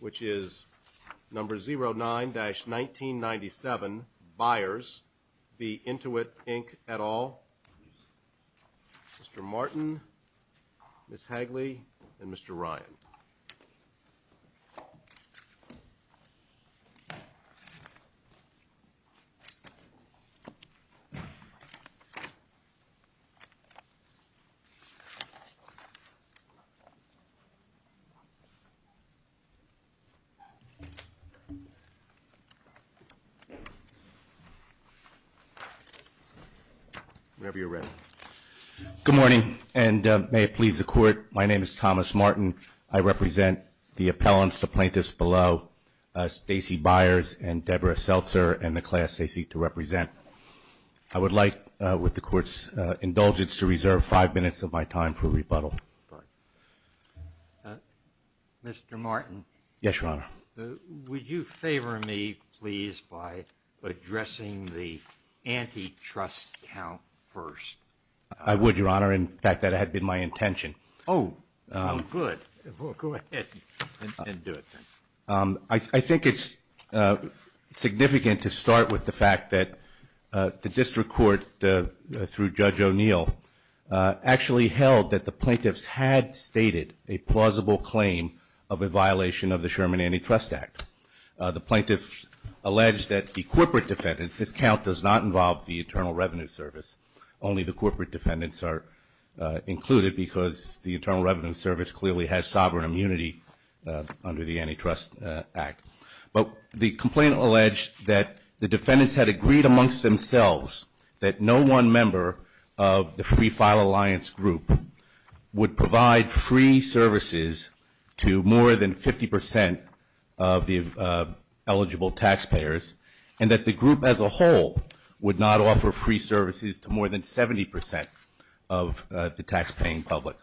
which is number 09-1997 Byers v. Intuit Inc. et al., Mr. Martin, Ms. Hagley, and Mr. Ryan. Good morning, and may it please the Court, my name is Thomas Martin. I represent the appellants, the plaintiffs below, Stacey Byers and Deborah Seltzer and the class they seek to represent. I would like, with the Court's indulgence, to reserve five minutes of my time for rebuttal. Mr. Martin, would you favor me, please, by addressing the antitrust count first? I would, Your Honor. In fact, that had been my intention. Oh, good. Go ahead and do it then. I think it's significant to start with the fact that the District Court, through Judge O'Neill, actually held that the plaintiffs had stated a plausible claim of a violation of the Sherman Antitrust Act. The plaintiffs alleged that the corporate defendants, this count does not involve the Internal Revenue Service, only the corporate defendants are included because the Internal Revenue Service clearly has sovereign immunity under the Antitrust Act. But the complainant alleged that the defendants had agreed amongst themselves that no one member of the Free File Alliance group would provide free services to more than 50 percent of the eligible taxpayers, and that the group as a whole would not offer free services to more than 70 percent of the taxpaying public.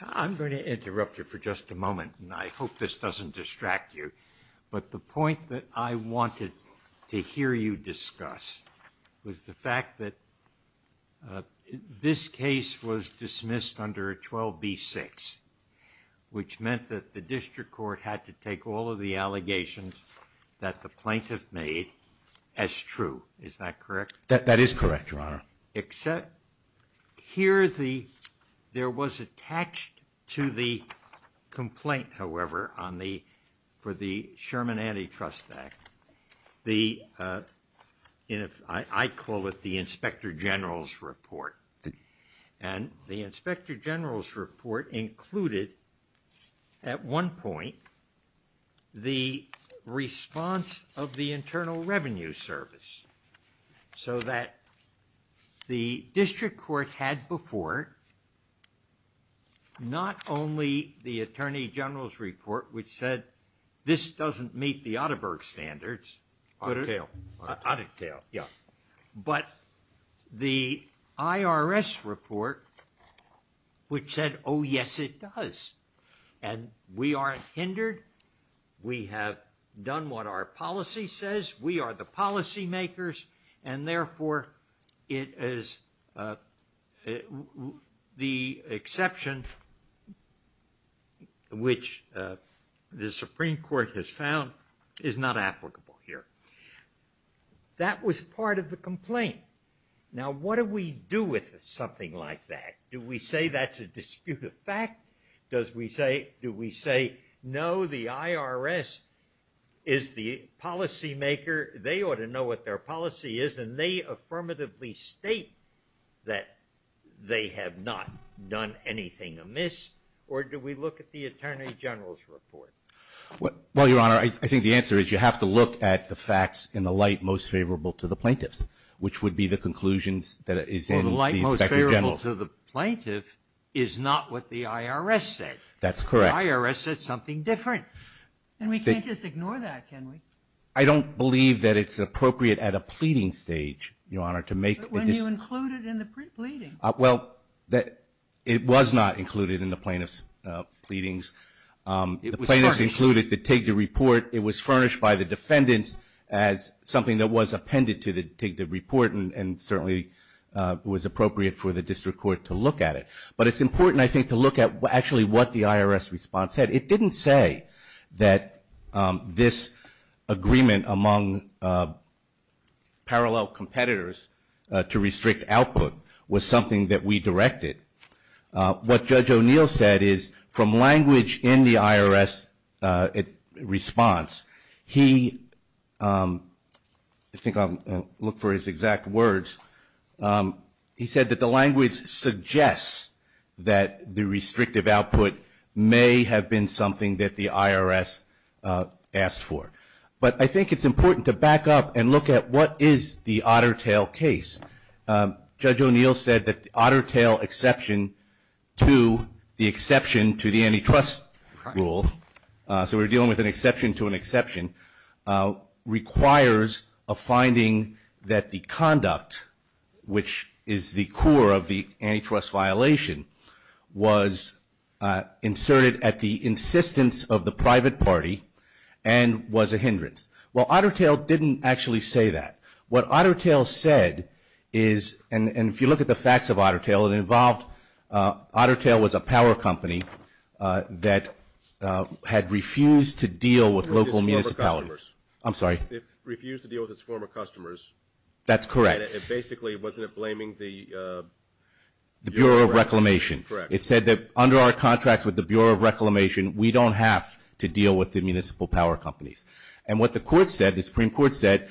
I'm going to interrupt you for just a moment, and I hope this doesn't distract you. But the point that I wanted to hear you discuss was the fact that this case was dismissed under 12b-6, which meant that the District Court had to take all of the allegations that the plaintiff made as true. Is that correct? That is correct, Your Honor. Except here, there was attached to the complaint, however, for the Sherman Antitrust Act, I call it the Inspector General's Report. And the Inspector General's Report included, at one point, the response of the Internal Revenue Service so that the District Court had before not only the Attorney General's Report, which said, this doesn't meet the Atterberg standards, but the IRS report, which said, oh, yes, it does. And we aren't hindered. We have done what our policy says. We are the policymakers. And therefore, the exception, which the Supreme Court has found, is not applicable here. That was part of the complaint. Now, what do we do with something like that? Do we say that's a disputed fact? Do we say, no, the IRS is the policymaker. They ought to know what their policy is. And they affirmatively state that they have not done anything amiss. Or do we look at the Attorney General's Report? Well, Your Honor, I think the answer is you have to look at the facts in the light most favorable to the plaintiffs, which would be the conclusions that is in the Inspector General's. That's not what the IRS said. That's correct. The IRS said something different. And we can't just ignore that, can we? I don't believe that it's appropriate at a pleading stage, Your Honor, to make a decision. But when you include it in the pleading. Well, it was not included in the plaintiffs' pleadings. The plaintiffs included the TIGTA report. It was furnished by the defendants as something that was appended to the TIGTA report and certainly was appropriate for the District Court to look at it. But it's important, I think, to look at actually what the IRS response said. It didn't say that this agreement among parallel competitors to restrict output was something that we directed. What Judge O'Neill said is from language in the IRS response, he, I think I'll look for his exact words, he said that the language suggests that the restrictive output may have been something that the IRS asked for. But I think it's important to back up and look at what is the otter tail case. Judge O'Neill said that the otter tail exception to the exception to the antitrust rule, so we're dealing with an exception to an exception, requires a finding that the conduct, which is the core of the antitrust violation, was inserted at the insistence of the private party and was a hindrance. Well, otter tail didn't actually say that. What otter tail said is, and if you look at the facts of otter tail, it involved otter tail was a power company that had refused to deal with local municipalities. It refused to deal with its former customers. I'm sorry? It refused to deal with its former customers. That's correct. And basically, wasn't it blaming the Bureau of Reclamation? Correct. It said that under our contracts with the Bureau of Reclamation, we don't have to deal with the municipal power companies. And what the court said, the Supreme Court said,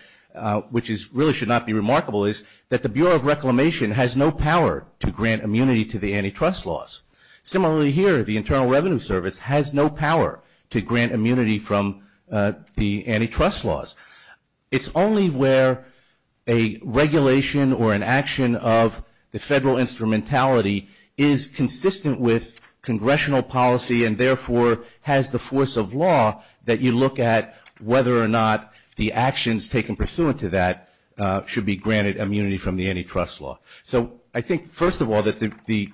which really should not be remarkable, is that the Bureau of Reclamation has no power to grant immunity to the antitrust laws. Similarly here, the Internal Revenue Service has no power to grant immunity from the antitrust laws. It's only where a regulation or an action of the federal instrumentality is consistent with congressional policy and therefore has the force of law that you look at whether or not the actions taken pursuant to that should be granted immunity from the antitrust law. So I think, first of all, that the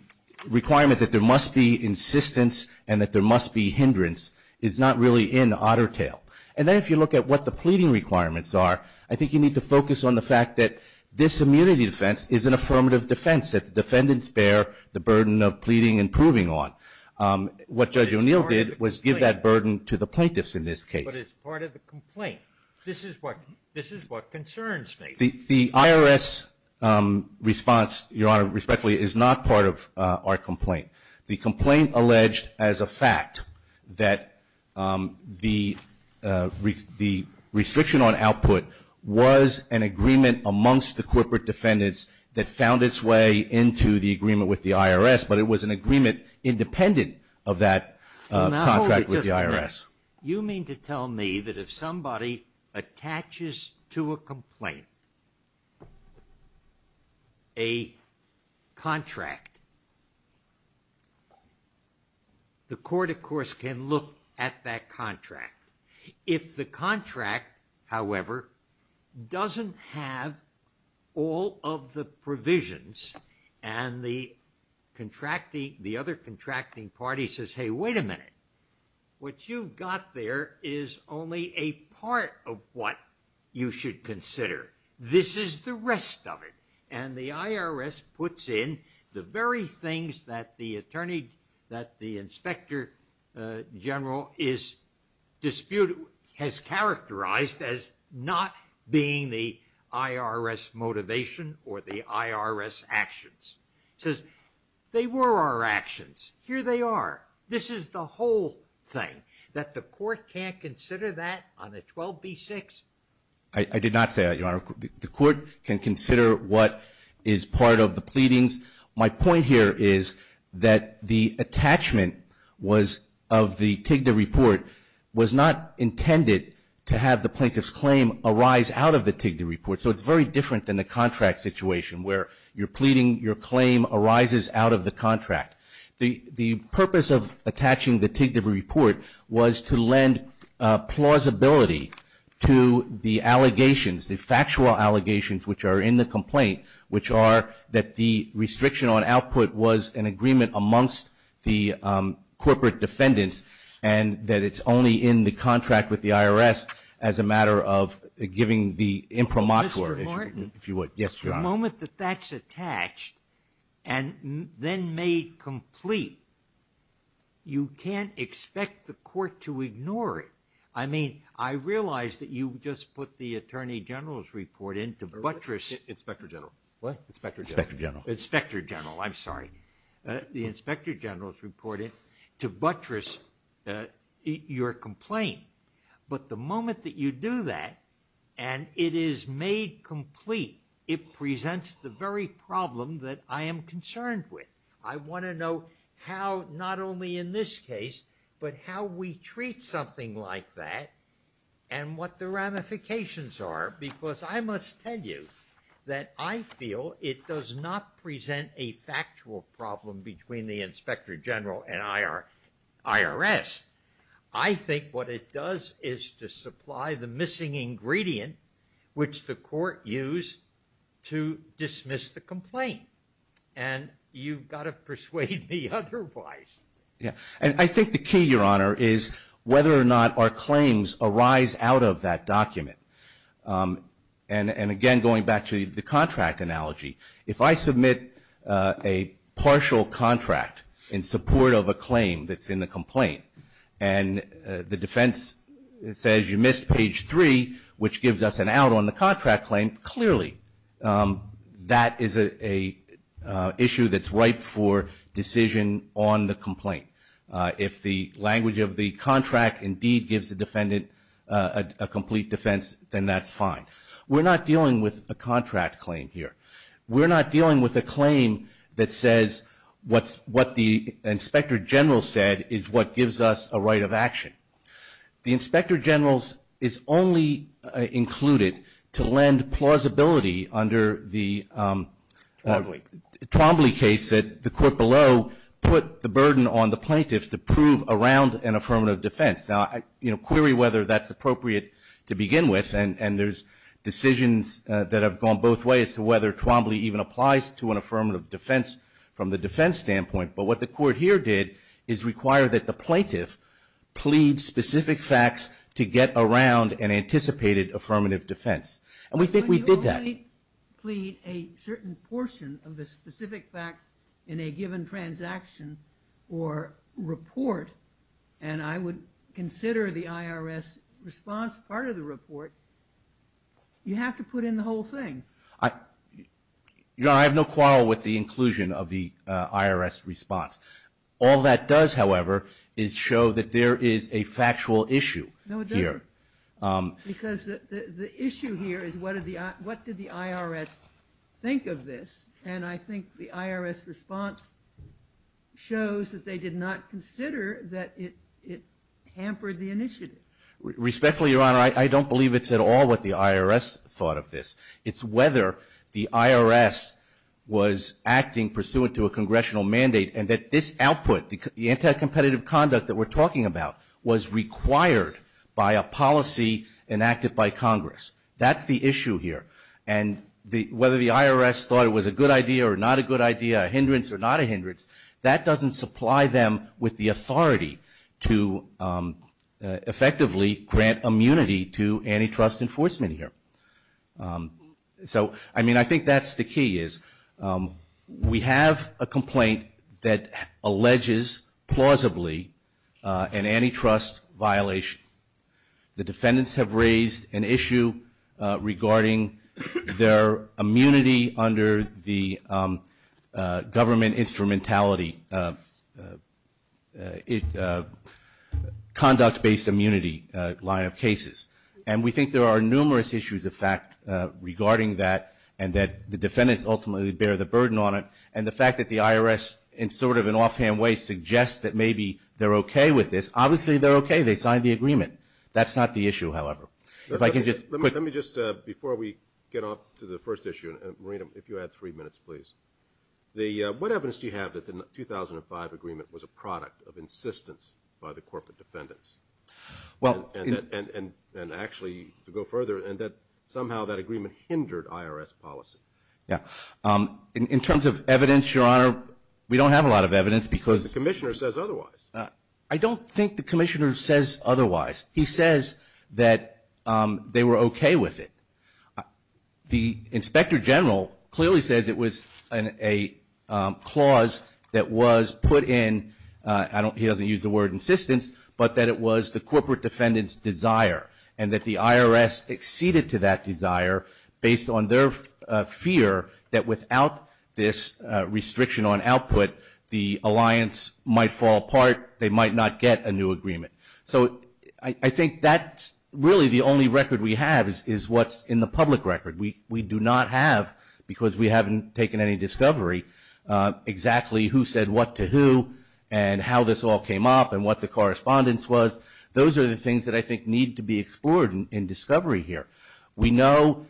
requirement that there must be insistence and that there must be hindrance is not really in otter tail. And then if you look at what the pleading requirements are, I think you need to focus on the fact that this immunity defense is an affirmative defense, that the defendants bear the burden of pleading and proving on. What Judge O'Neill did was give that burden to the plaintiffs in this case. But it's part of the complaint. This is what concerns me. The IRS response, Your Honor, respectfully, is not part of our complaint. The complaint alleged as a fact that the restriction on output was an agreement amongst the corporate defendants that found its way into the agreement with the IRS, but it was an agreement independent of that contract with the IRS. You mean to tell me that if somebody attaches to a complaint a contract, the court, of course, can look at that contract. If the contract, however, doesn't have all of the provisions and the other contracting party says, hey, wait a minute. What you've got there is only a part of what you should consider. This is the rest of it. And the IRS puts in the very things that the inspector general has characterized as not being the IRS motivation or the IRS actions. It says they were our actions. Here they are. This is the whole thing, that the court can't consider that on a 12b-6? I did not say that, Your Honor. The court can consider what is part of the pleadings. My point here is that the attachment of the TIGDA report was not intended to have the plaintiff's claim arise out of the TIGDA report. So it's very different than the contract situation where you're pleading, your claim arises out of the contract. The purpose of attaching the TIGDA report was to lend plausibility to the allegations, the factual allegations which are in the complaint, which are that the restriction on output was an agreement amongst the corporate defendants and that it's only in the contract with the IRS as a matter of giving the imprimatur. Mr. Martin, the moment that that's attached and then made complete, you can't expect the court to ignore it. I mean, I realize that you just put the Attorney General's report in to buttress. Inspector General. What? Inspector General. Inspector General. I'm sorry. The Inspector General's report to buttress your complaint. But the moment that you do that and it is made complete, it presents the very problem that I am concerned with. I want to know how, not only in this case, but how we treat something like that and what the ramifications are because I must tell you that I feel it does not present a factual problem between the Inspector General and IRS. I think what it does is to supply the missing ingredient, which the court used to dismiss the complaint. And you've got to persuade me otherwise. Yeah. And I think the key, Your Honor, is whether or not our claims arise out of that document. And again, going back to the contract analogy, if I submit a partial contract in support of a claim that's in the complaint and the defense says you missed page three, which gives us an out on the contract claim, clearly that is an issue that's ripe for decision on the complaint. If the language of the contract indeed gives the defendant a complete defense, then that's fine. We're not dealing with a contract claim here. We're not dealing with a claim that says what the Inspector General said is what gives us a right of action. The Inspector General is only included to lend plausibility under the Twombly case that the court below put the burden on the plaintiffs to prove around an affirmative defense. Now, query whether that's appropriate to begin with, and there's decisions that have gone both ways to whether Twombly even applies to an affirmative defense from the defense standpoint. But what the court here did is require that the plaintiff plead specific facts to get around an anticipated affirmative defense. And we think we did that. When you only plead a certain portion of the specific facts in a given transaction or report, and I would consider the IRS response part of the report, you have to put in the whole thing. Your Honor, I have no quarrel with the inclusion of the IRS response. All that does, however, is show that there is a factual issue here. No, it doesn't. Because the issue here is what did the IRS think of this? And I think the IRS response shows that they did not consider that it hampered the initiative. Respectfully, Your Honor, I don't believe it's at all what the IRS thought of this. It's whether the IRS was acting pursuant to a congressional mandate and that this output, the anti-competitive conduct that we're talking about, was required by a policy enacted by Congress. That's the issue here. And whether the IRS thought it was a good idea or not a good idea, a hindrance or not a hindrance, that doesn't supply them with the authority to effectively grant immunity to antitrust enforcement here. So, I mean, I think that's the key is we have a complaint that alleges plausibly an antitrust violation. The defendants have raised an issue regarding their immunity under the conduct-based immunity line of cases. And we think there are numerous issues of fact regarding that and that the defendants ultimately bear the burden on it. And the fact that the IRS in sort of an offhand way suggests that maybe they're okay with this. Obviously, they're okay. They signed the agreement. That's not the issue, however. Let me just, before we get off to the first issue, Marina, if you had three minutes, please. What evidence do you have that the 2005 agreement was a product of insistence by the corporate defendants? And actually, to go further, somehow that agreement hindered IRS policy. In terms of evidence, Your Honor, we don't have a lot of evidence because The commissioner says otherwise. I don't think the commissioner says otherwise. He says that they were okay with it. The inspector general clearly says it was a clause that was put in, he doesn't use the word insistence, but that it was the corporate defendants' desire and that the IRS acceded to that desire based on their fear that without this restriction on output, the alliance might fall apart. They might not get a new agreement. So I think that's really the only record we have is what's in the public record. We do not have because we haven't taken any discovery exactly who said what to who and how this all came up and what the correspondence was. Those are the things that I think need to be explored in discovery here. We know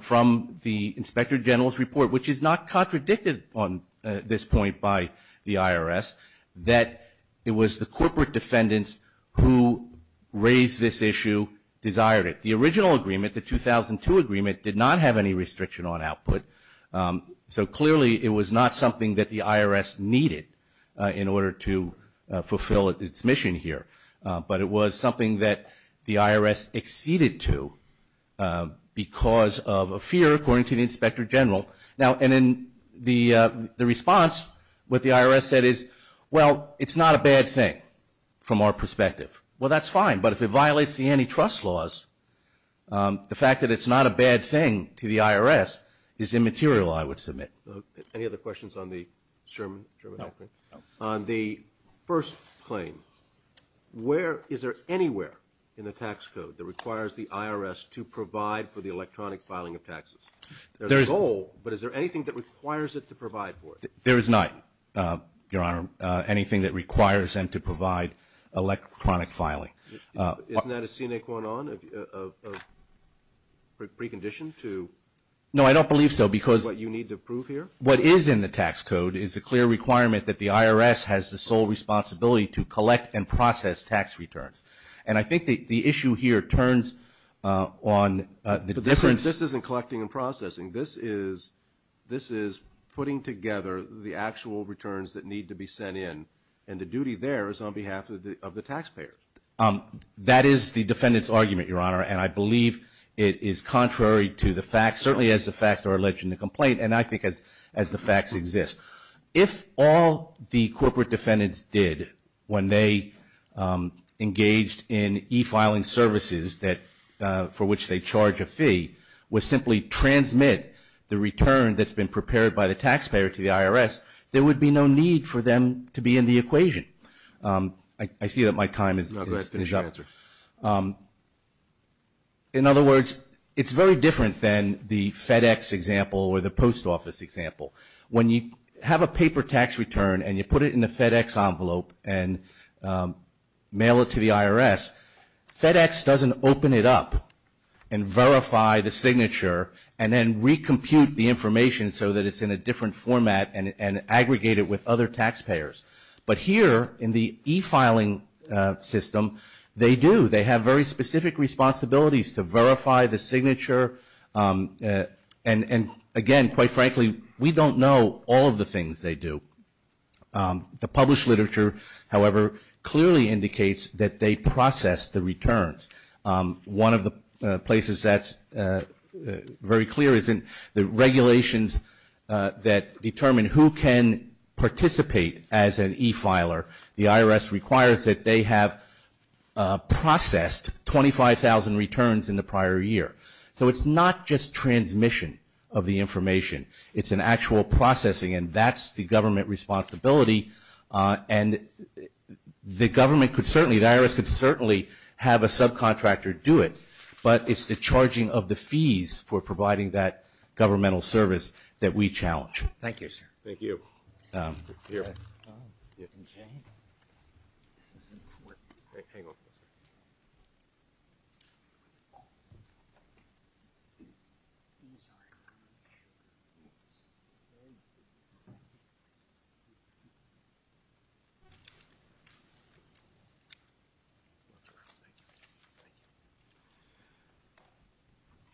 from the inspector general's report, which is not contradicted on this point by the IRS, that it was the corporate defendants who raised this issue, desired it. The original agreement, the 2002 agreement, did not have any restriction on output. So clearly it was not something that the IRS needed in order to fulfill its mission here, but it was something that the IRS acceded to because of a fear, according to the inspector general. Now, and in the response, what the IRS said is, well, it's not a bad thing from our perspective. Well, that's fine, but if it violates the antitrust laws, the fact that it's not a bad thing to the IRS is immaterial, I would submit. Any other questions on the Sherman? No. On the first claim, where is there anywhere in the tax code that requires the IRS to provide for the electronic filing of taxes? There's a goal, but is there anything that requires it to provide for it? There is not, Your Honor, anything that requires them to provide electronic filing. Isn't that a scenic one on, a precondition to what you need to prove here? No, I don't believe so, because what is in the tax code is a clear requirement that the IRS has the sole responsibility to collect and process tax returns. And I think the issue here turns on the difference. This isn't collecting and processing. This is putting together the actual returns that need to be sent in, and the duty there is on behalf of the taxpayer. That is the defendant's argument, Your Honor, and I believe it is contrary to the facts, certainly as the facts are alleged in the complaint, and I think as the facts exist. If all the corporate defendants did when they engaged in e-filing services for which they charge a fee, would simply transmit the return that's been prepared by the taxpayer to the IRS, there would be no need for them to be in the equation. I see that my time is up. In other words, it's very different than the FedEx example or the post office example. When you have a paper tax return and you put it in the FedEx envelope and mail it to the IRS, FedEx doesn't open it up and verify the signature and then recompute the information so that it's in a different format and aggregate it with other taxpayers. But here in the e-filing system, they do. They have very specific responsibilities to verify the signature, and, again, quite frankly, we don't know all of the things they do. The published literature, however, clearly indicates that they process the returns. One of the places that's very clear is in the regulations that determine who can participate as an e-filer. The IRS requires that they have processed 25,000 returns in the prior year. So it's not just transmission of the information. It's an actual processing, and that's the government responsibility. And the government could certainly, the IRS could certainly have a subcontractor do it, but it's the charging of the fees for providing that governmental service that we challenge. Thank you, sir. Thank you. Here.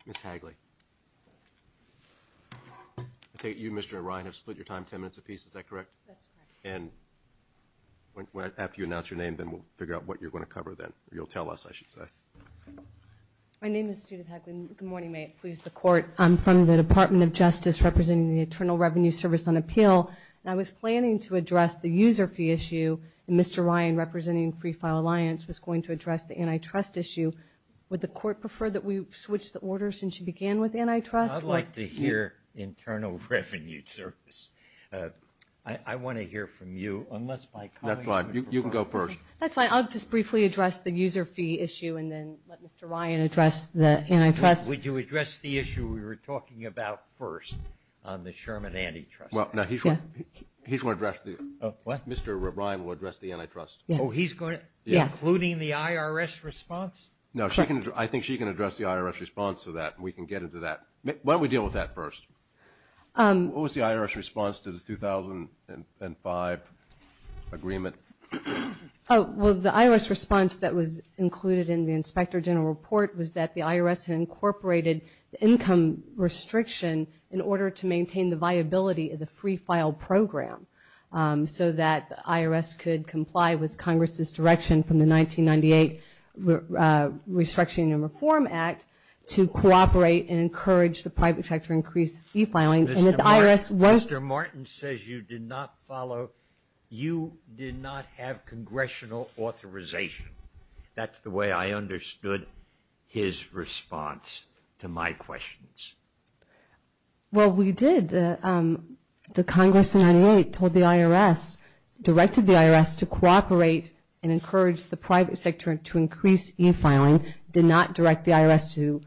Ms. Hagley. Okay, you, Mr. Ryan, have split your time ten minutes apiece. Is that correct? That's correct. And after you announce your name, then we'll figure out what you're going to cover then. You'll tell us, I should say. My name is Judith Hagley. Good morning, may it please the Court. I'm from the Department of Justice representing the Internal Revenue Service on appeal, and I was planning to address the user fee issue, and Mr. Ryan representing Free File Alliance was going to address the antitrust issue. Would the Court prefer that we switch the order since you began with antitrust? I'd like to hear Internal Revenue Service. I want to hear from you, unless by calling you first. That's fine, you can go first. That's fine, I'll just briefly address the user fee issue and then let Mr. Ryan address the antitrust. Would you address the issue we were talking about first on the Sherman Antitrust? Well, no, he's going to address the, Mr. Ryan will address the antitrust. Yes. Oh, he's going to? Yes. Including the IRS response? No, I think she can address the IRS response to that, and we can get into that. Why don't we deal with that first? What was the IRS response to the 2005 agreement? Well, the IRS response that was included in the Inspector General Report was that the IRS had incorporated the income restriction in order to maintain the viability of the free file program so that the IRS could comply with Congress's direction from the 1998 Restructuring and Reform Act to cooperate and encourage the private sector increased fee filing. Mr. Martin says you did not follow, you did not have congressional authorization. That's the way I understood his response to my questions. Well, we did. The Congress in 1998 told the IRS, directed the IRS to cooperate and encourage the private sector to increase e-filing, did not direct the IRS to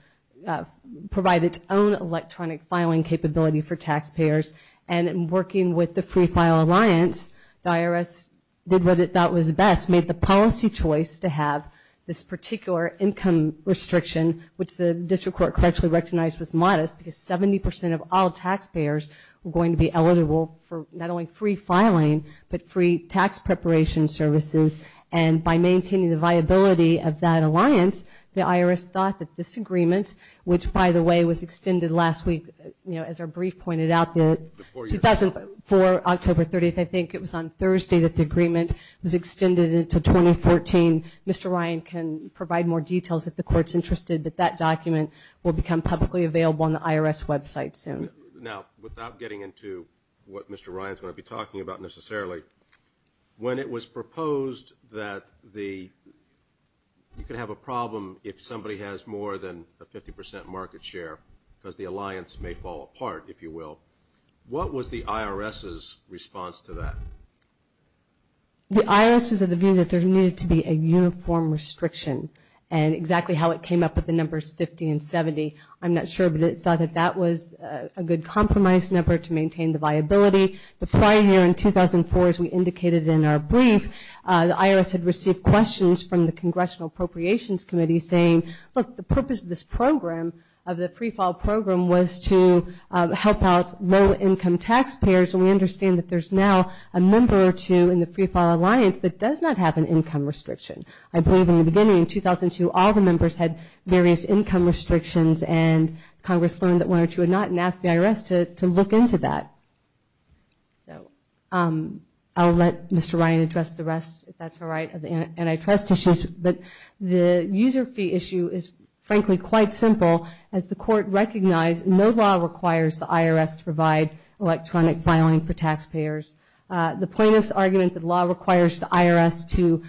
provide its own electronic filing capability for taxpayers, and in working with the Free File Alliance, the IRS did what it thought was best, made the policy choice to have this particular income restriction, which the district court correctly recognized was modest, because 70 percent of all taxpayers were going to be eligible for not only free filing, but free tax preparation services, and by maintaining the viability of that alliance, the IRS thought that this agreement, which, by the way, was extended last week. You know, as our brief pointed out, the 2004, October 30th, I think, it was on Thursday that the agreement was extended into 2014. Mr. Ryan can provide more details if the court is interested, but that document will become publicly available on the IRS website soon. Now, without getting into what Mr. Ryan is going to be talking about necessarily, when it was proposed that you could have a problem if somebody has more than a 50 percent market share, because the alliance may fall apart, if you will, what was the IRS's response to that? The IRS was of the view that there needed to be a uniform restriction, and exactly how it came up with the numbers 50 and 70, I'm not sure, but it thought that that was a good compromise number to maintain the viability. The prior year, in 2004, as we indicated in our brief, the IRS had received questions from the Congressional Appropriations Committee saying, look, the purpose of this program, of the free file program, was to help out low-income taxpayers, and we understand that there's now a member or two in the free file alliance that does not have an income restriction. I believe in the beginning, in 2002, all the members had various income restrictions, and Congress learned that one or two had not, and asked the IRS to look into that. I'll let Mr. Ryan address the rest, if that's all right, of the antitrust issues, but the user fee issue is, frankly, quite simple. As the court recognized, no law requires the IRS to provide electronic filing for taxpayers. The plaintiff's argument that law requires the IRS to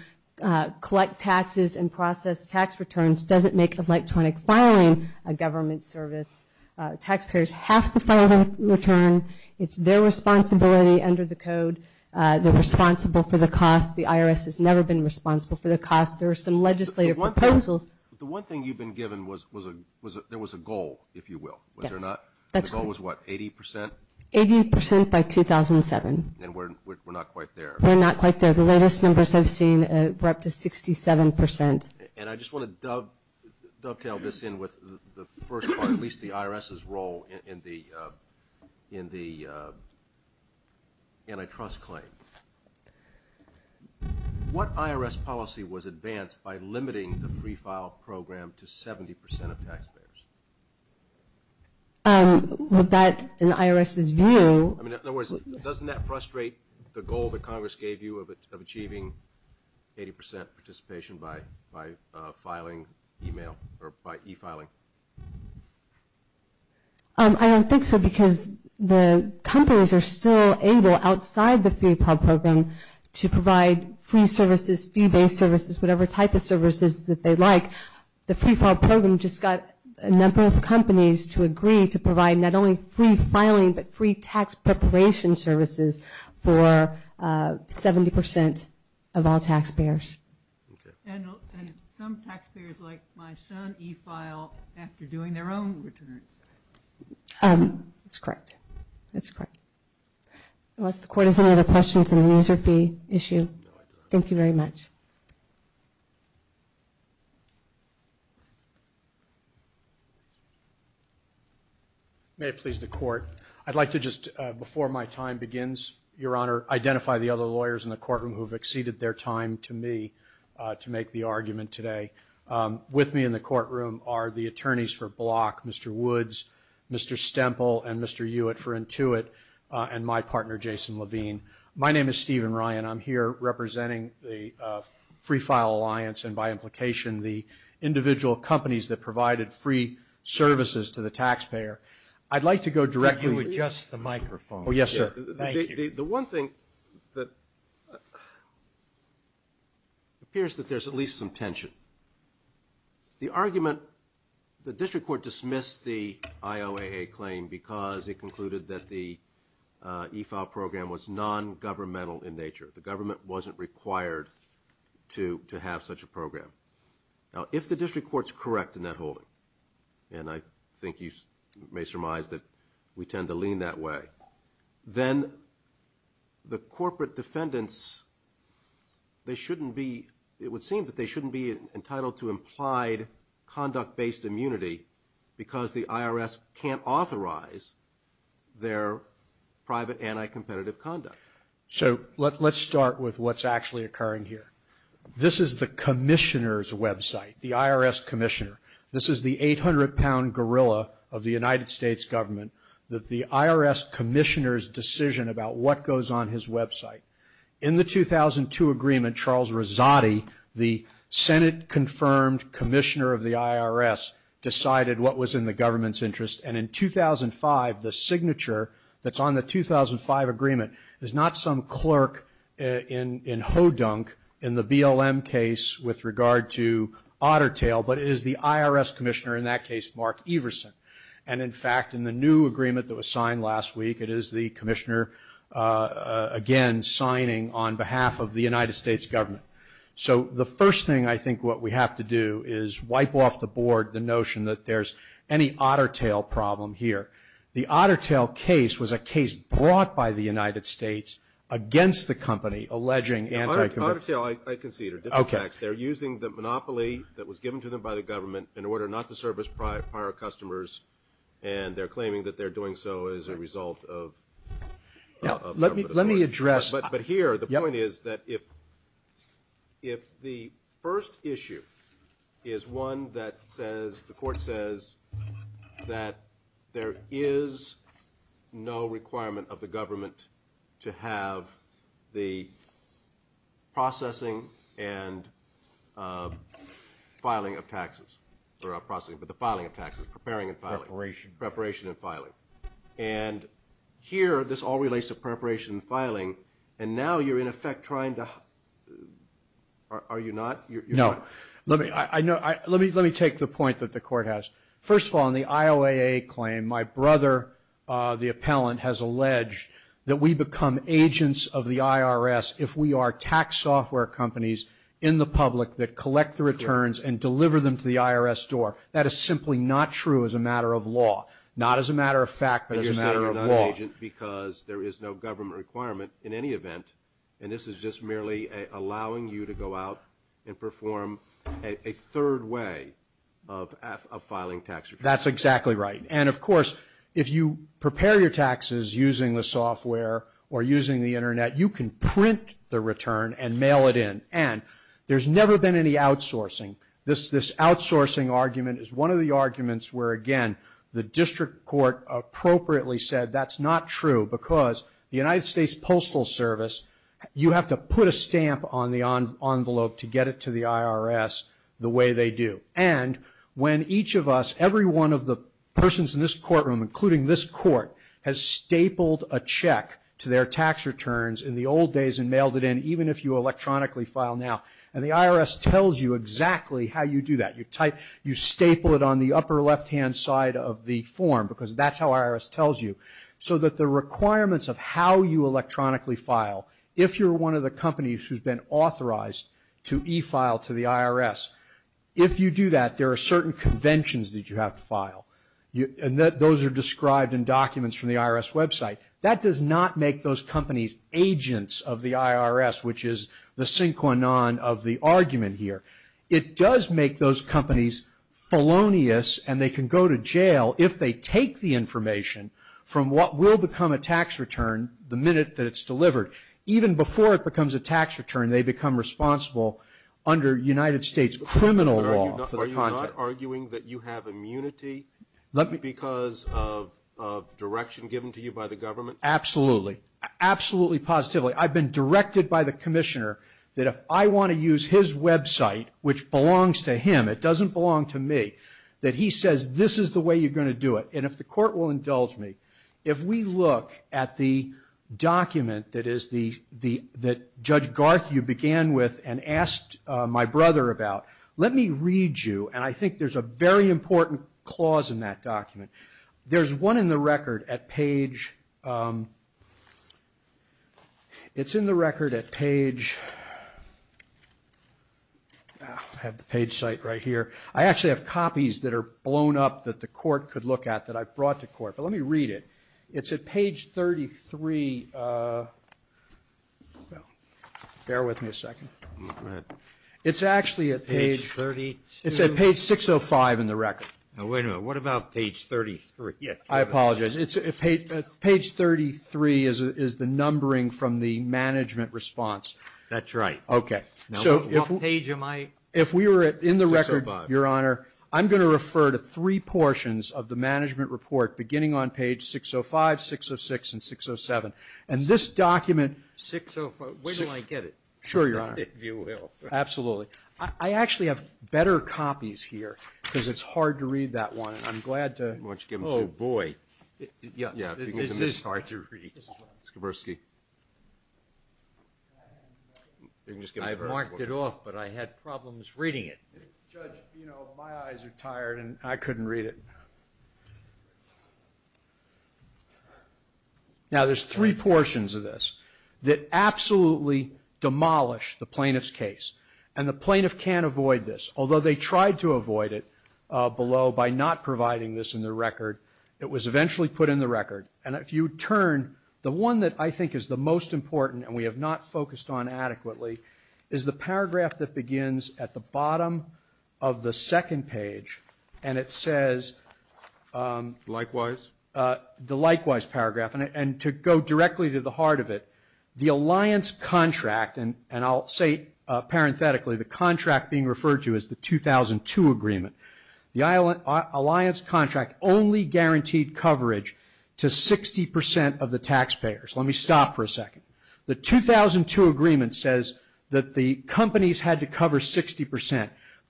collect taxes and process tax returns doesn't make electronic filing a government service. Taxpayers have to file their return. It's their responsibility under the code. They're responsible for the cost. The IRS has never been responsible for the cost. There are some legislative proposals. The one thing you've been given was there was a goal, if you will, was there not? Yes, that's right. The goal was what, 80%? 80% by 2007. And we're not quite there. We're not quite there. The latest numbers I've seen were up to 67%. And I just want to dovetail this in with the first part, at least the IRS's role in the antitrust claim. What IRS policy was advanced by limiting the free file program to 70% of taxpayers? With that in the IRS's view. In other words, doesn't that frustrate the goal that Congress gave you of achieving 80% participation by filing e-mail, or by e-filing? I don't think so because the companies are still able, outside the free file program, to provide free services, fee-based services, whatever type of services that they like. The free file program just got a number of companies to agree to provide not only free filing, but free tax preparation services for 70% of all taxpayers. And some taxpayers, like my son, e-file after doing their own returns. That's correct. That's correct. Unless the Court has any other questions on the user fee issue. Thank you very much. May it please the Court. lawyers in the courtroom who have exceeded their time to me to make the argument today. With me in the courtroom are the attorneys for Block, Mr. Woods, Mr. Stemple, and Mr. Hewitt for Intuit, and my partner, Jason Levine. My name is Stephen Ryan. I'm here representing the Free File Alliance and, by implication, the individual companies that provided free services to the taxpayer. I'd like to go directly to you. If you would adjust the microphone. Oh, yes, sir. Thank you. The one thing that appears that there's at least some tension. The argument, the district court dismissed the IOAA claim because it concluded that the e-file program was non-governmental in nature. The government wasn't required to have such a program. Now, if the district court's correct in that holding, and I think you may surmise that we tend to lean that way, then the corporate defendants, they shouldn't be, it would seem that they shouldn't be entitled to implied conduct-based immunity because the IRS can't authorize their private anti-competitive conduct. So let's start with what's actually occurring here. This is the commissioner's website, the IRS commissioner. This is the 800-pound gorilla of the United States government, the IRS commissioner's decision about what goes on his website. In the 2002 agreement, Charles Rezati, the Senate-confirmed commissioner of the IRS, decided what was in the government's interest, and in 2005, the signature that's on the 2005 agreement is not some clerk in hoedunk in the BLM case with regard to Otter Tail, but it is the IRS commissioner, in that case, Mark Everson. And in fact, in the new agreement that was signed last week, it is the commissioner again signing on behalf of the United States government. So the first thing I think what we have to do is wipe off the board the notion that there's any Otter Tail problem here. The Otter Tail case was a case brought by the United States against the company alleging anti-competitive. Otter Tail, I concede, are different acts. They're using the monopoly that was given to them by the government in order not to service prior customers, and they're claiming that they're doing so as a result of government authority. But here, the point is that if the first issue is one that says, that there is no requirement of the government to have the processing and filing of taxes, or processing, but the filing of taxes, preparing and filing. Preparation. Preparation and filing. And here, this all relates to preparation and filing, and now you're in effect trying to – are you not? No. Let me take the point that the court has. First of all, in the IOAA claim, my brother, the appellant, has alleged that we become agents of the IRS if we are tax software companies in the public that collect the returns and deliver them to the IRS door. That is simply not true as a matter of law. Not as a matter of fact, but as a matter of law. But you're saying you're not an agent because there is no government requirement in any event, and this is just merely allowing you to go out and perform a third way of filing tax returns. That's exactly right. And, of course, if you prepare your taxes using the software or using the Internet, you can print the return and mail it in. And there's never been any outsourcing. The district court appropriately said that's not true because the United States Postal Service, you have to put a stamp on the envelope to get it to the IRS the way they do. And when each of us, every one of the persons in this courtroom, including this court, has stapled a check to their tax returns in the old days and mailed it in, even if you electronically file now, and the IRS tells you exactly how you do that. You staple it on the upper left-hand side of the form because that's how IRS tells you. So that the requirements of how you electronically file, if you're one of the companies who's been authorized to e-file to the IRS, if you do that, there are certain conventions that you have to file. And those are described in documents from the IRS website. That does not make those companies agents of the IRS, which is the synchronon of the argument here. It does make those companies felonious and they can go to jail if they take the information from what will become a tax return the minute that it's delivered. Even before it becomes a tax return, they become responsible under United States criminal law. Are you not arguing that you have immunity because of direction given to you by the government? Absolutely. Absolutely positively. I've been directed by the commissioner that if I want to use his website, which belongs to him, it doesn't belong to me, that he says this is the way you're going to do it. And if the court will indulge me, if we look at the document that Judge Garth, you began with and asked my brother about, let me read you, and I think there's a very important clause in that document. There's one in the record at page, it's in the record at page, I have the page site right here. I actually have copies that are blown up that the court could look at that I brought to court. But let me read it. It's at page 33, bear with me a second. It's actually at page, it's at page 605 in the record. Wait a minute. What about page 33? I apologize. Page 33 is the numbering from the management response. That's right. Okay. What page am I? If we were in the record, Your Honor, I'm going to refer to three portions of the management report beginning on page 605, 606, and 607. And this document. Where do I get it? Sure, Your Honor. If you will. Absolutely. I actually have better copies here because it's hard to read that one. I'm glad to. Why don't you give them to him? Oh, boy. Yeah. This is hard to read. Skiborski. I marked it off, but I had problems reading it. Judge, you know, my eyes are tired and I couldn't read it. Now there's three portions of this that absolutely demolish the plaintiff's case. And the plaintiff can't avoid this. Although they tried to avoid it below by not providing this in their record, it was eventually put in the record. And if you turn, the one that I think is the most important, and we have not focused on adequately, is the paragraph that begins at the bottom of the second page. And it says the likewise paragraph. And to go directly to the heart of it, the alliance contract, and I'll say parenthetically, the contract being referred to as the 2002 agreement, the alliance contract only guaranteed coverage to 60% of the taxpayers. Let me stop for a second. The 2002 agreement says that the companies had to cover 60%.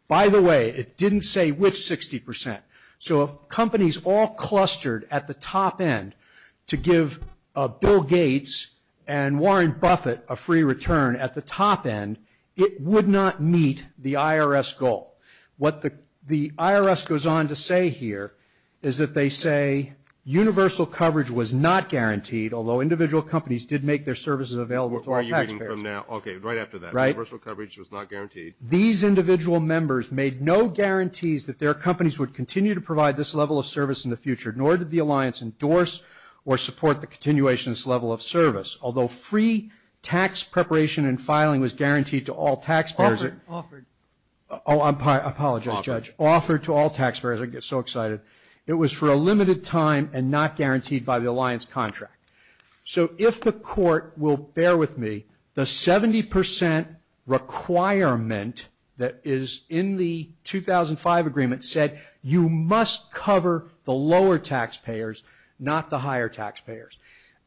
By the way, it didn't say which 60%. So if companies all clustered at the top end to give Bill Gates and Warren Buffett a free return at the top end, it would not meet the IRS goal. What the IRS goes on to say here is that they say universal coverage was not guaranteed, although individual companies did make their services available to all taxpayers. Okay, right after that. Universal coverage was not guaranteed. These individual members made no guarantees that their companies would continue to provide this level of service in the future, nor did the alliance endorse or support the continuation of this level of service. Although free tax preparation and filing was guaranteed to all taxpayers. Offered. Oh, I apologize, Judge. Offered. Offered to all taxpayers. I get so excited. It was for a limited time and not guaranteed by the alliance contract. So if the court will bear with me, the 70% requirement that is in the 2005 agreement said you must cover the lower taxpayers, not the higher taxpayers.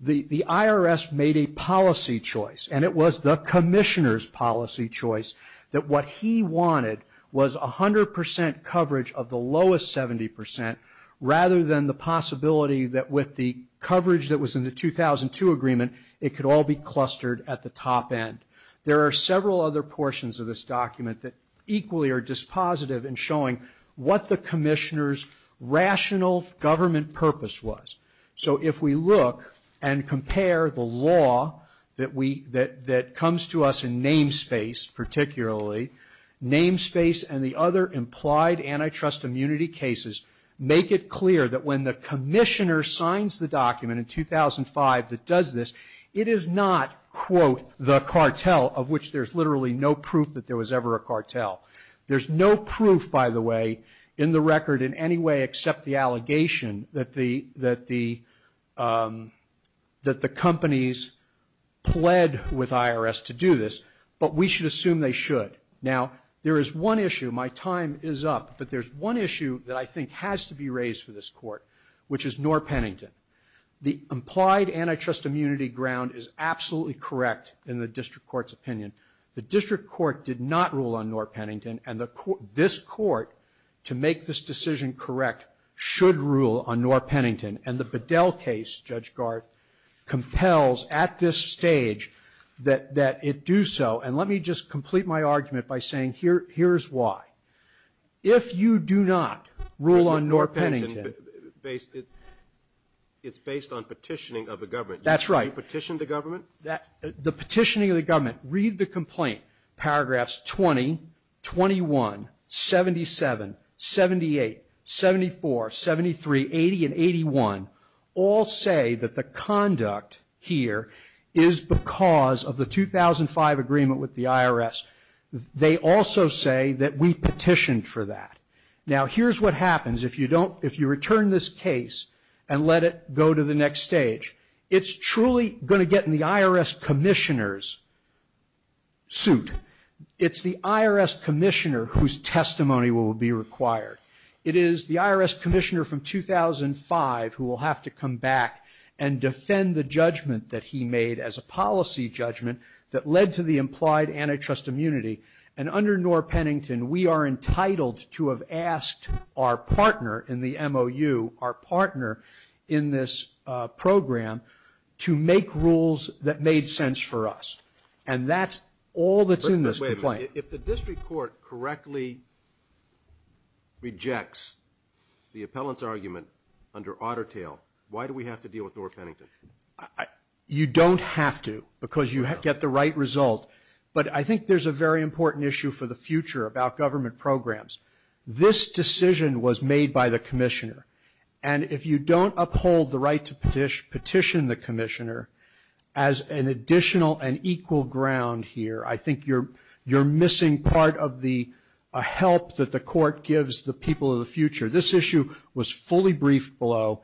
The IRS made a policy choice, and it was the commissioner's policy choice, that what he wanted was 100% coverage of the lowest 70% rather than the possibility that with the coverage that was in the 2002 agreement, it could all be clustered at the top end. There are several other portions of this document that equally are dispositive in showing what the commissioner's rational government purpose was. So if we look and compare the law that comes to us in namespace, particularly, namespace and the other implied antitrust immunity cases, make it clear that when the commissioner signs the document in 2005 that does this, it is not, quote, the cartel of which there's literally no proof that there was ever a cartel. There's no proof, by the way, in the record in any way except the allegation that the companies pled with IRS to do this, but we should assume they should. Now, there is one issue. My time is up. But there's one issue that I think has to be raised for this Court, which is Knorr-Pennington. The implied antitrust immunity ground is absolutely correct in the district court's opinion. The district court did not rule on Knorr-Pennington, and this Court, to make this decision correct, should rule on Knorr-Pennington. And the Bedell case, Judge Garth, compels at this stage that it do so. And let me just complete my argument by saying here is why. If you do not rule on Knorr-Pennington. It's based on petitioning of the government. That's right. You petitioned the government? The petitioning of the government. Read the complaint. Paragraphs 20, 21, 77, 78, 74, 73, 80, and 81 all say that the conduct here is because of the 2005 agreement with the IRS. They also say that we petitioned for that. Now, here's what happens if you return this case and let it go to the next stage. It's truly going to get in the IRS commissioner's suit. It's the IRS commissioner whose testimony will be required. It is the IRS commissioner from 2005 who will have to come back and defend the And under Knorr-Pennington, we are entitled to have asked our partner in the MOU, our partner in this program, to make rules that made sense for us. And that's all that's in this complaint. Wait a minute. If the district court correctly rejects the appellant's argument under Otter Tail, why do we have to deal with Knorr-Pennington? You don't have to because you get the right result. But I think there's a very important issue for the future about government programs. This decision was made by the commissioner. And if you don't uphold the right to petition the commissioner, as an additional and equal ground here, I think you're missing part of the help that the court gives the people of the future. This issue was fully briefed below.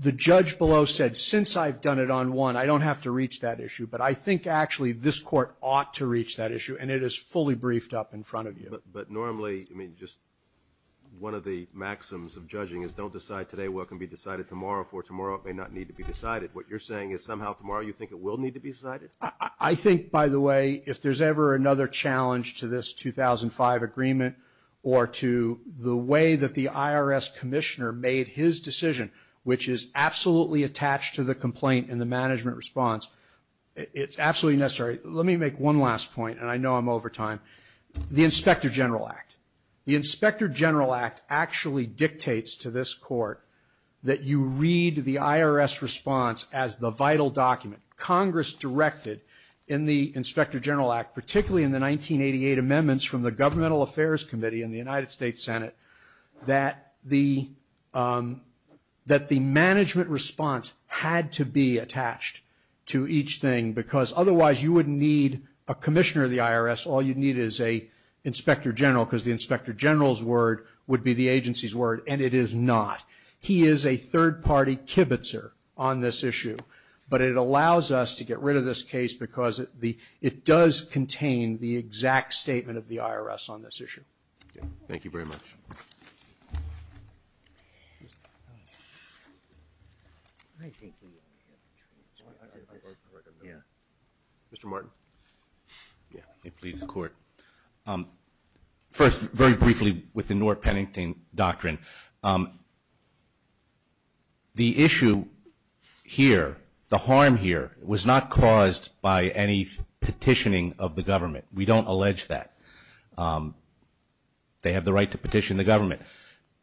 The judge below said, since I've done it on one, I don't have to reach that issue. But I think, actually, this court ought to reach that issue. And it is fully briefed up in front of you. But normally, I mean, just one of the maxims of judging is don't decide today what can be decided tomorrow, for tomorrow it may not need to be decided. What you're saying is somehow tomorrow you think it will need to be decided? I think, by the way, if there's ever another challenge to this 2005 agreement or to the way that the IRS commissioner made his decision, which is absolutely attached to the complaint and the management response, it's absolutely necessary. Let me make one last point, and I know I'm over time. The Inspector General Act. The Inspector General Act actually dictates to this court that you read the IRS response as the vital document. Congress directed in the Inspector General Act, particularly in the 1988 amendments from the Governmental Affairs Committee in the United States Senate, that the management response had to be attached to each thing, because otherwise you wouldn't need a commissioner of the IRS. All you'd need is an Inspector General, because the Inspector General's word would be the agency's word, and it is not. He is a third-party kibitzer on this issue. But it allows us to get rid of this case because it does contain the exact statement of the IRS on this issue. Thank you very much. Mr. Martin. Please, the Court. First, very briefly, with the Newark-Pennington Doctrine. The issue here, the harm here, was not caused by any petitioning of the government. We don't allege that. They have the right to petition the government.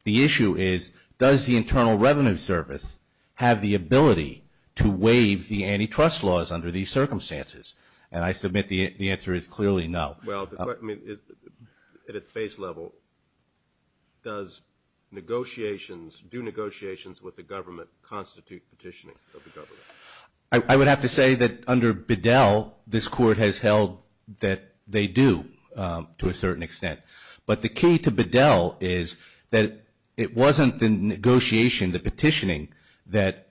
The issue is, does the Internal Revenue Service have the ability to waive the antitrust laws under these circumstances? And I submit the answer is clearly no. Well, I mean, at its base level, does negotiations, do negotiations with the government constitute petitioning of the government? I would have to say that under Bedell, this Court has held that they do, to a certain extent. But the key to Bedell is that it wasn't the negotiation, the petitioning, that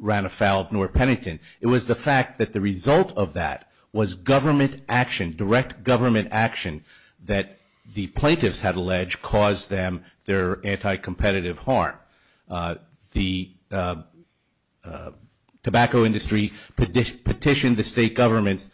ran afoul of Newark-Pennington. It was the fact that the result of that was government action, direct government action, that the plaintiffs had alleged caused them their anti-competitive harm. The tobacco industry petitioned the state governments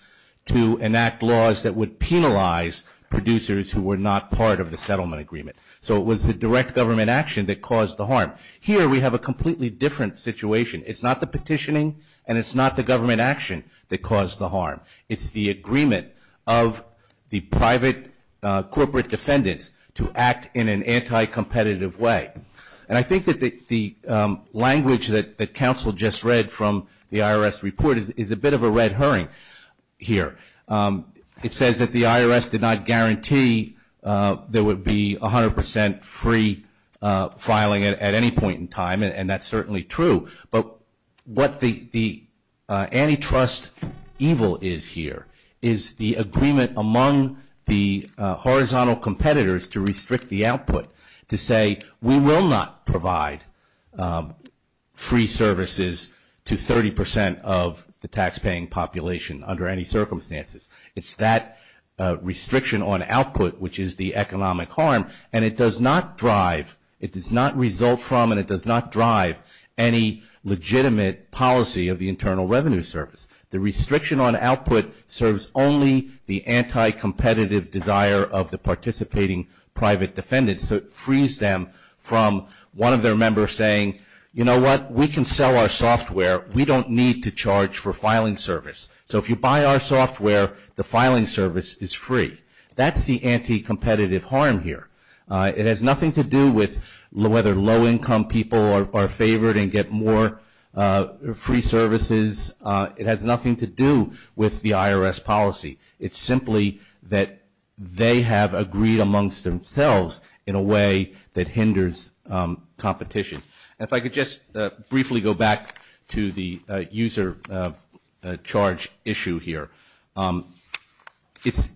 to enact laws that would penalize producers who were not part of the settlement agreement. So it was the direct government action that caused the harm. Here, we have a completely different situation. It's not the petitioning, and it's not the government action that caused the harm. It's the agreement of the private corporate defendants to act in an anti-competitive way. And I think that the language that counsel just read from the IRS report is a bit of a red herring here. It says that the IRS did not guarantee there would be 100 percent free filing at any point in time, and that's certainly true. But what the antitrust evil is here is the agreement among the horizontal competitors to restrict the output to say we will not provide free services to 30 percent of the taxpaying population under any circumstances. It's that restriction on output which is the economic harm, and it does not drive, it does not result from and it does not drive any legitimate policy of the Internal Revenue Service. The restriction on output serves only the anti-competitive desire of the participating private defendants. So it frees them from one of their members saying, you know what, we can sell our software. We don't need to charge for filing service. So if you buy our software, the filing service is free. That's the anti-competitive harm here. It has nothing to do with whether low-income people are favored and get more free services. It has nothing to do with the IRS policy. It's simply that they have agreed amongst themselves in a way that hinders competition. If I could just briefly go back to the user charge issue here. It's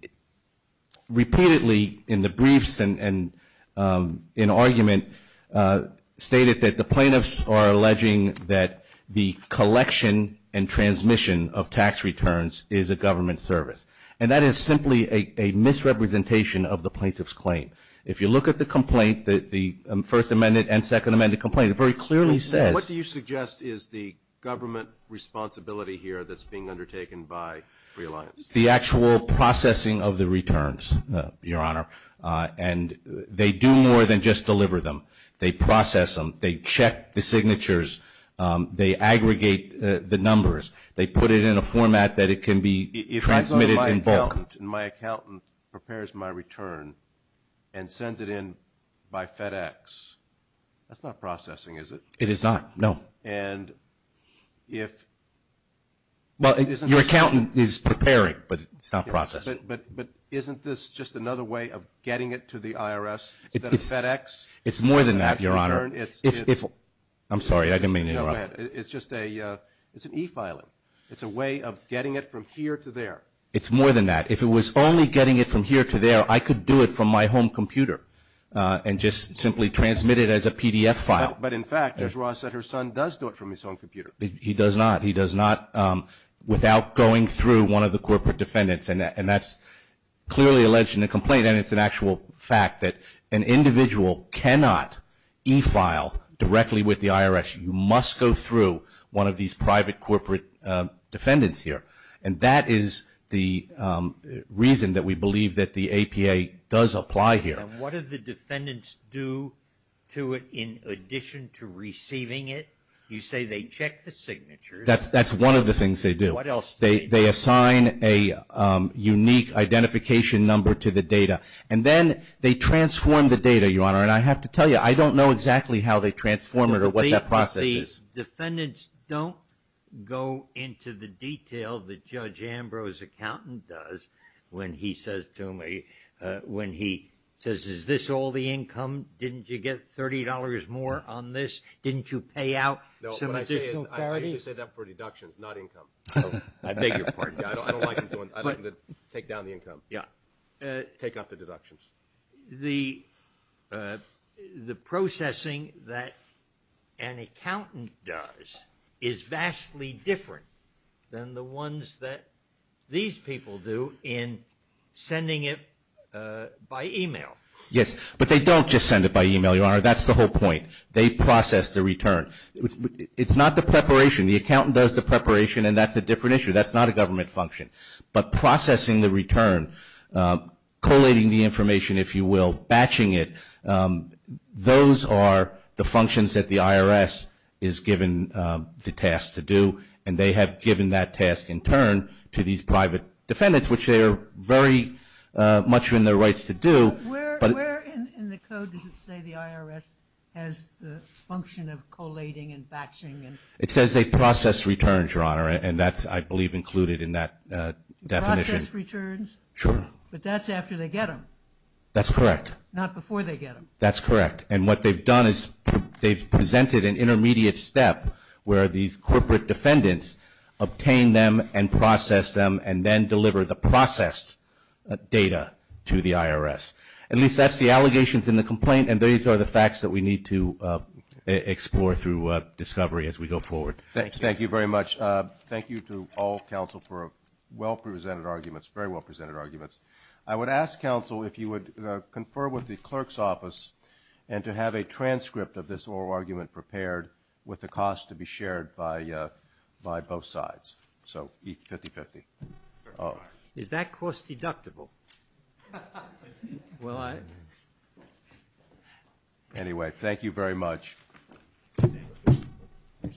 repeatedly in the briefs and in argument stated that the plaintiffs are alleging that the collection and transmission of tax returns is a government service. And that is simply a misrepresentation of the plaintiff's claim. If you look at the complaint, the First Amendment and Second Amendment complaint, it very clearly says. What do you suggest is the government responsibility here that's being undertaken by Free Alliance? The actual processing of the returns, Your Honor. And they do more than just deliver them. They process them. They check the signatures. They aggregate the numbers. They put it in a format that it can be transmitted in bulk. If I go to my accountant and my accountant prepares my return and sends it in by FedEx, that's not processing, is it? It is not, no. And if it isn't? Well, your accountant is preparing, but it's not processing. But isn't this just another way of getting it to the IRS instead of FedEx? It's more than that, Your Honor. I'm sorry. I didn't mean to interrupt. It's just an e-filing. It's a way of getting it from here to there. It's more than that. If it was only getting it from here to there, I could do it from my home computer and just simply transmit it as a PDF file. But, in fact, as Ross said, her son does do it from his own computer. He does not. He does not without going through one of the corporate defendants. And that's clearly alleged in the complaint. And it's an actual fact that an individual cannot e-file directly with the IRS. You must go through one of these private corporate defendants here. And that is the reason that we believe that the APA does apply here. And what do the defendants do to it in addition to receiving it? You say they check the signatures. What else do they do? They assign a unique identification number to the data. And then they transform the data, Your Honor. And I have to tell you, I don't know exactly how they transform it or what that process is. The defendants don't go into the detail that Judge Ambrose's accountant does when he says to him, when he says, is this all the income? Didn't you get $30 more on this? Didn't you pay out some additional clarity? No, what I say is I usually say that for deductions, not income. I beg your pardon. I don't like to take down the income. Yeah. Take out the deductions. The processing that an accountant does is vastly different than the ones that these people do in sending it by e-mail. Yes, but they don't just send it by e-mail, Your Honor. That's the whole point. They process the return. It's not the preparation. The accountant does the preparation, and that's a different issue. That's not a government function. But processing the return, collating the information, if you will, batching it, those are the functions that the IRS is given the task to do, and they have given that task in turn to these private defendants, which they are very much in their rights to do. Where in the code does it say the IRS has the function of collating and batching? It says they process returns, Your Honor, and that's, I believe, included in that definition. Process returns? Sure. But that's after they get them. That's correct. Not before they get them. That's correct. And what they've done is they've presented an intermediate step where these corporate defendants obtain them and process them and then deliver the processed data to the IRS. At least that's the allegations in the complaint, and these are the facts that we need to explore through discovery as we go forward. Thank you very much. Thank you to all counsel for well-presented arguments, very well-presented arguments. I would ask counsel if you would confer with the clerk's office and to have a transcript of this oral argument prepared with the cost to be shared by both sides. So each 50-50. Is that cost deductible? Will I? Anyway, thank you very much.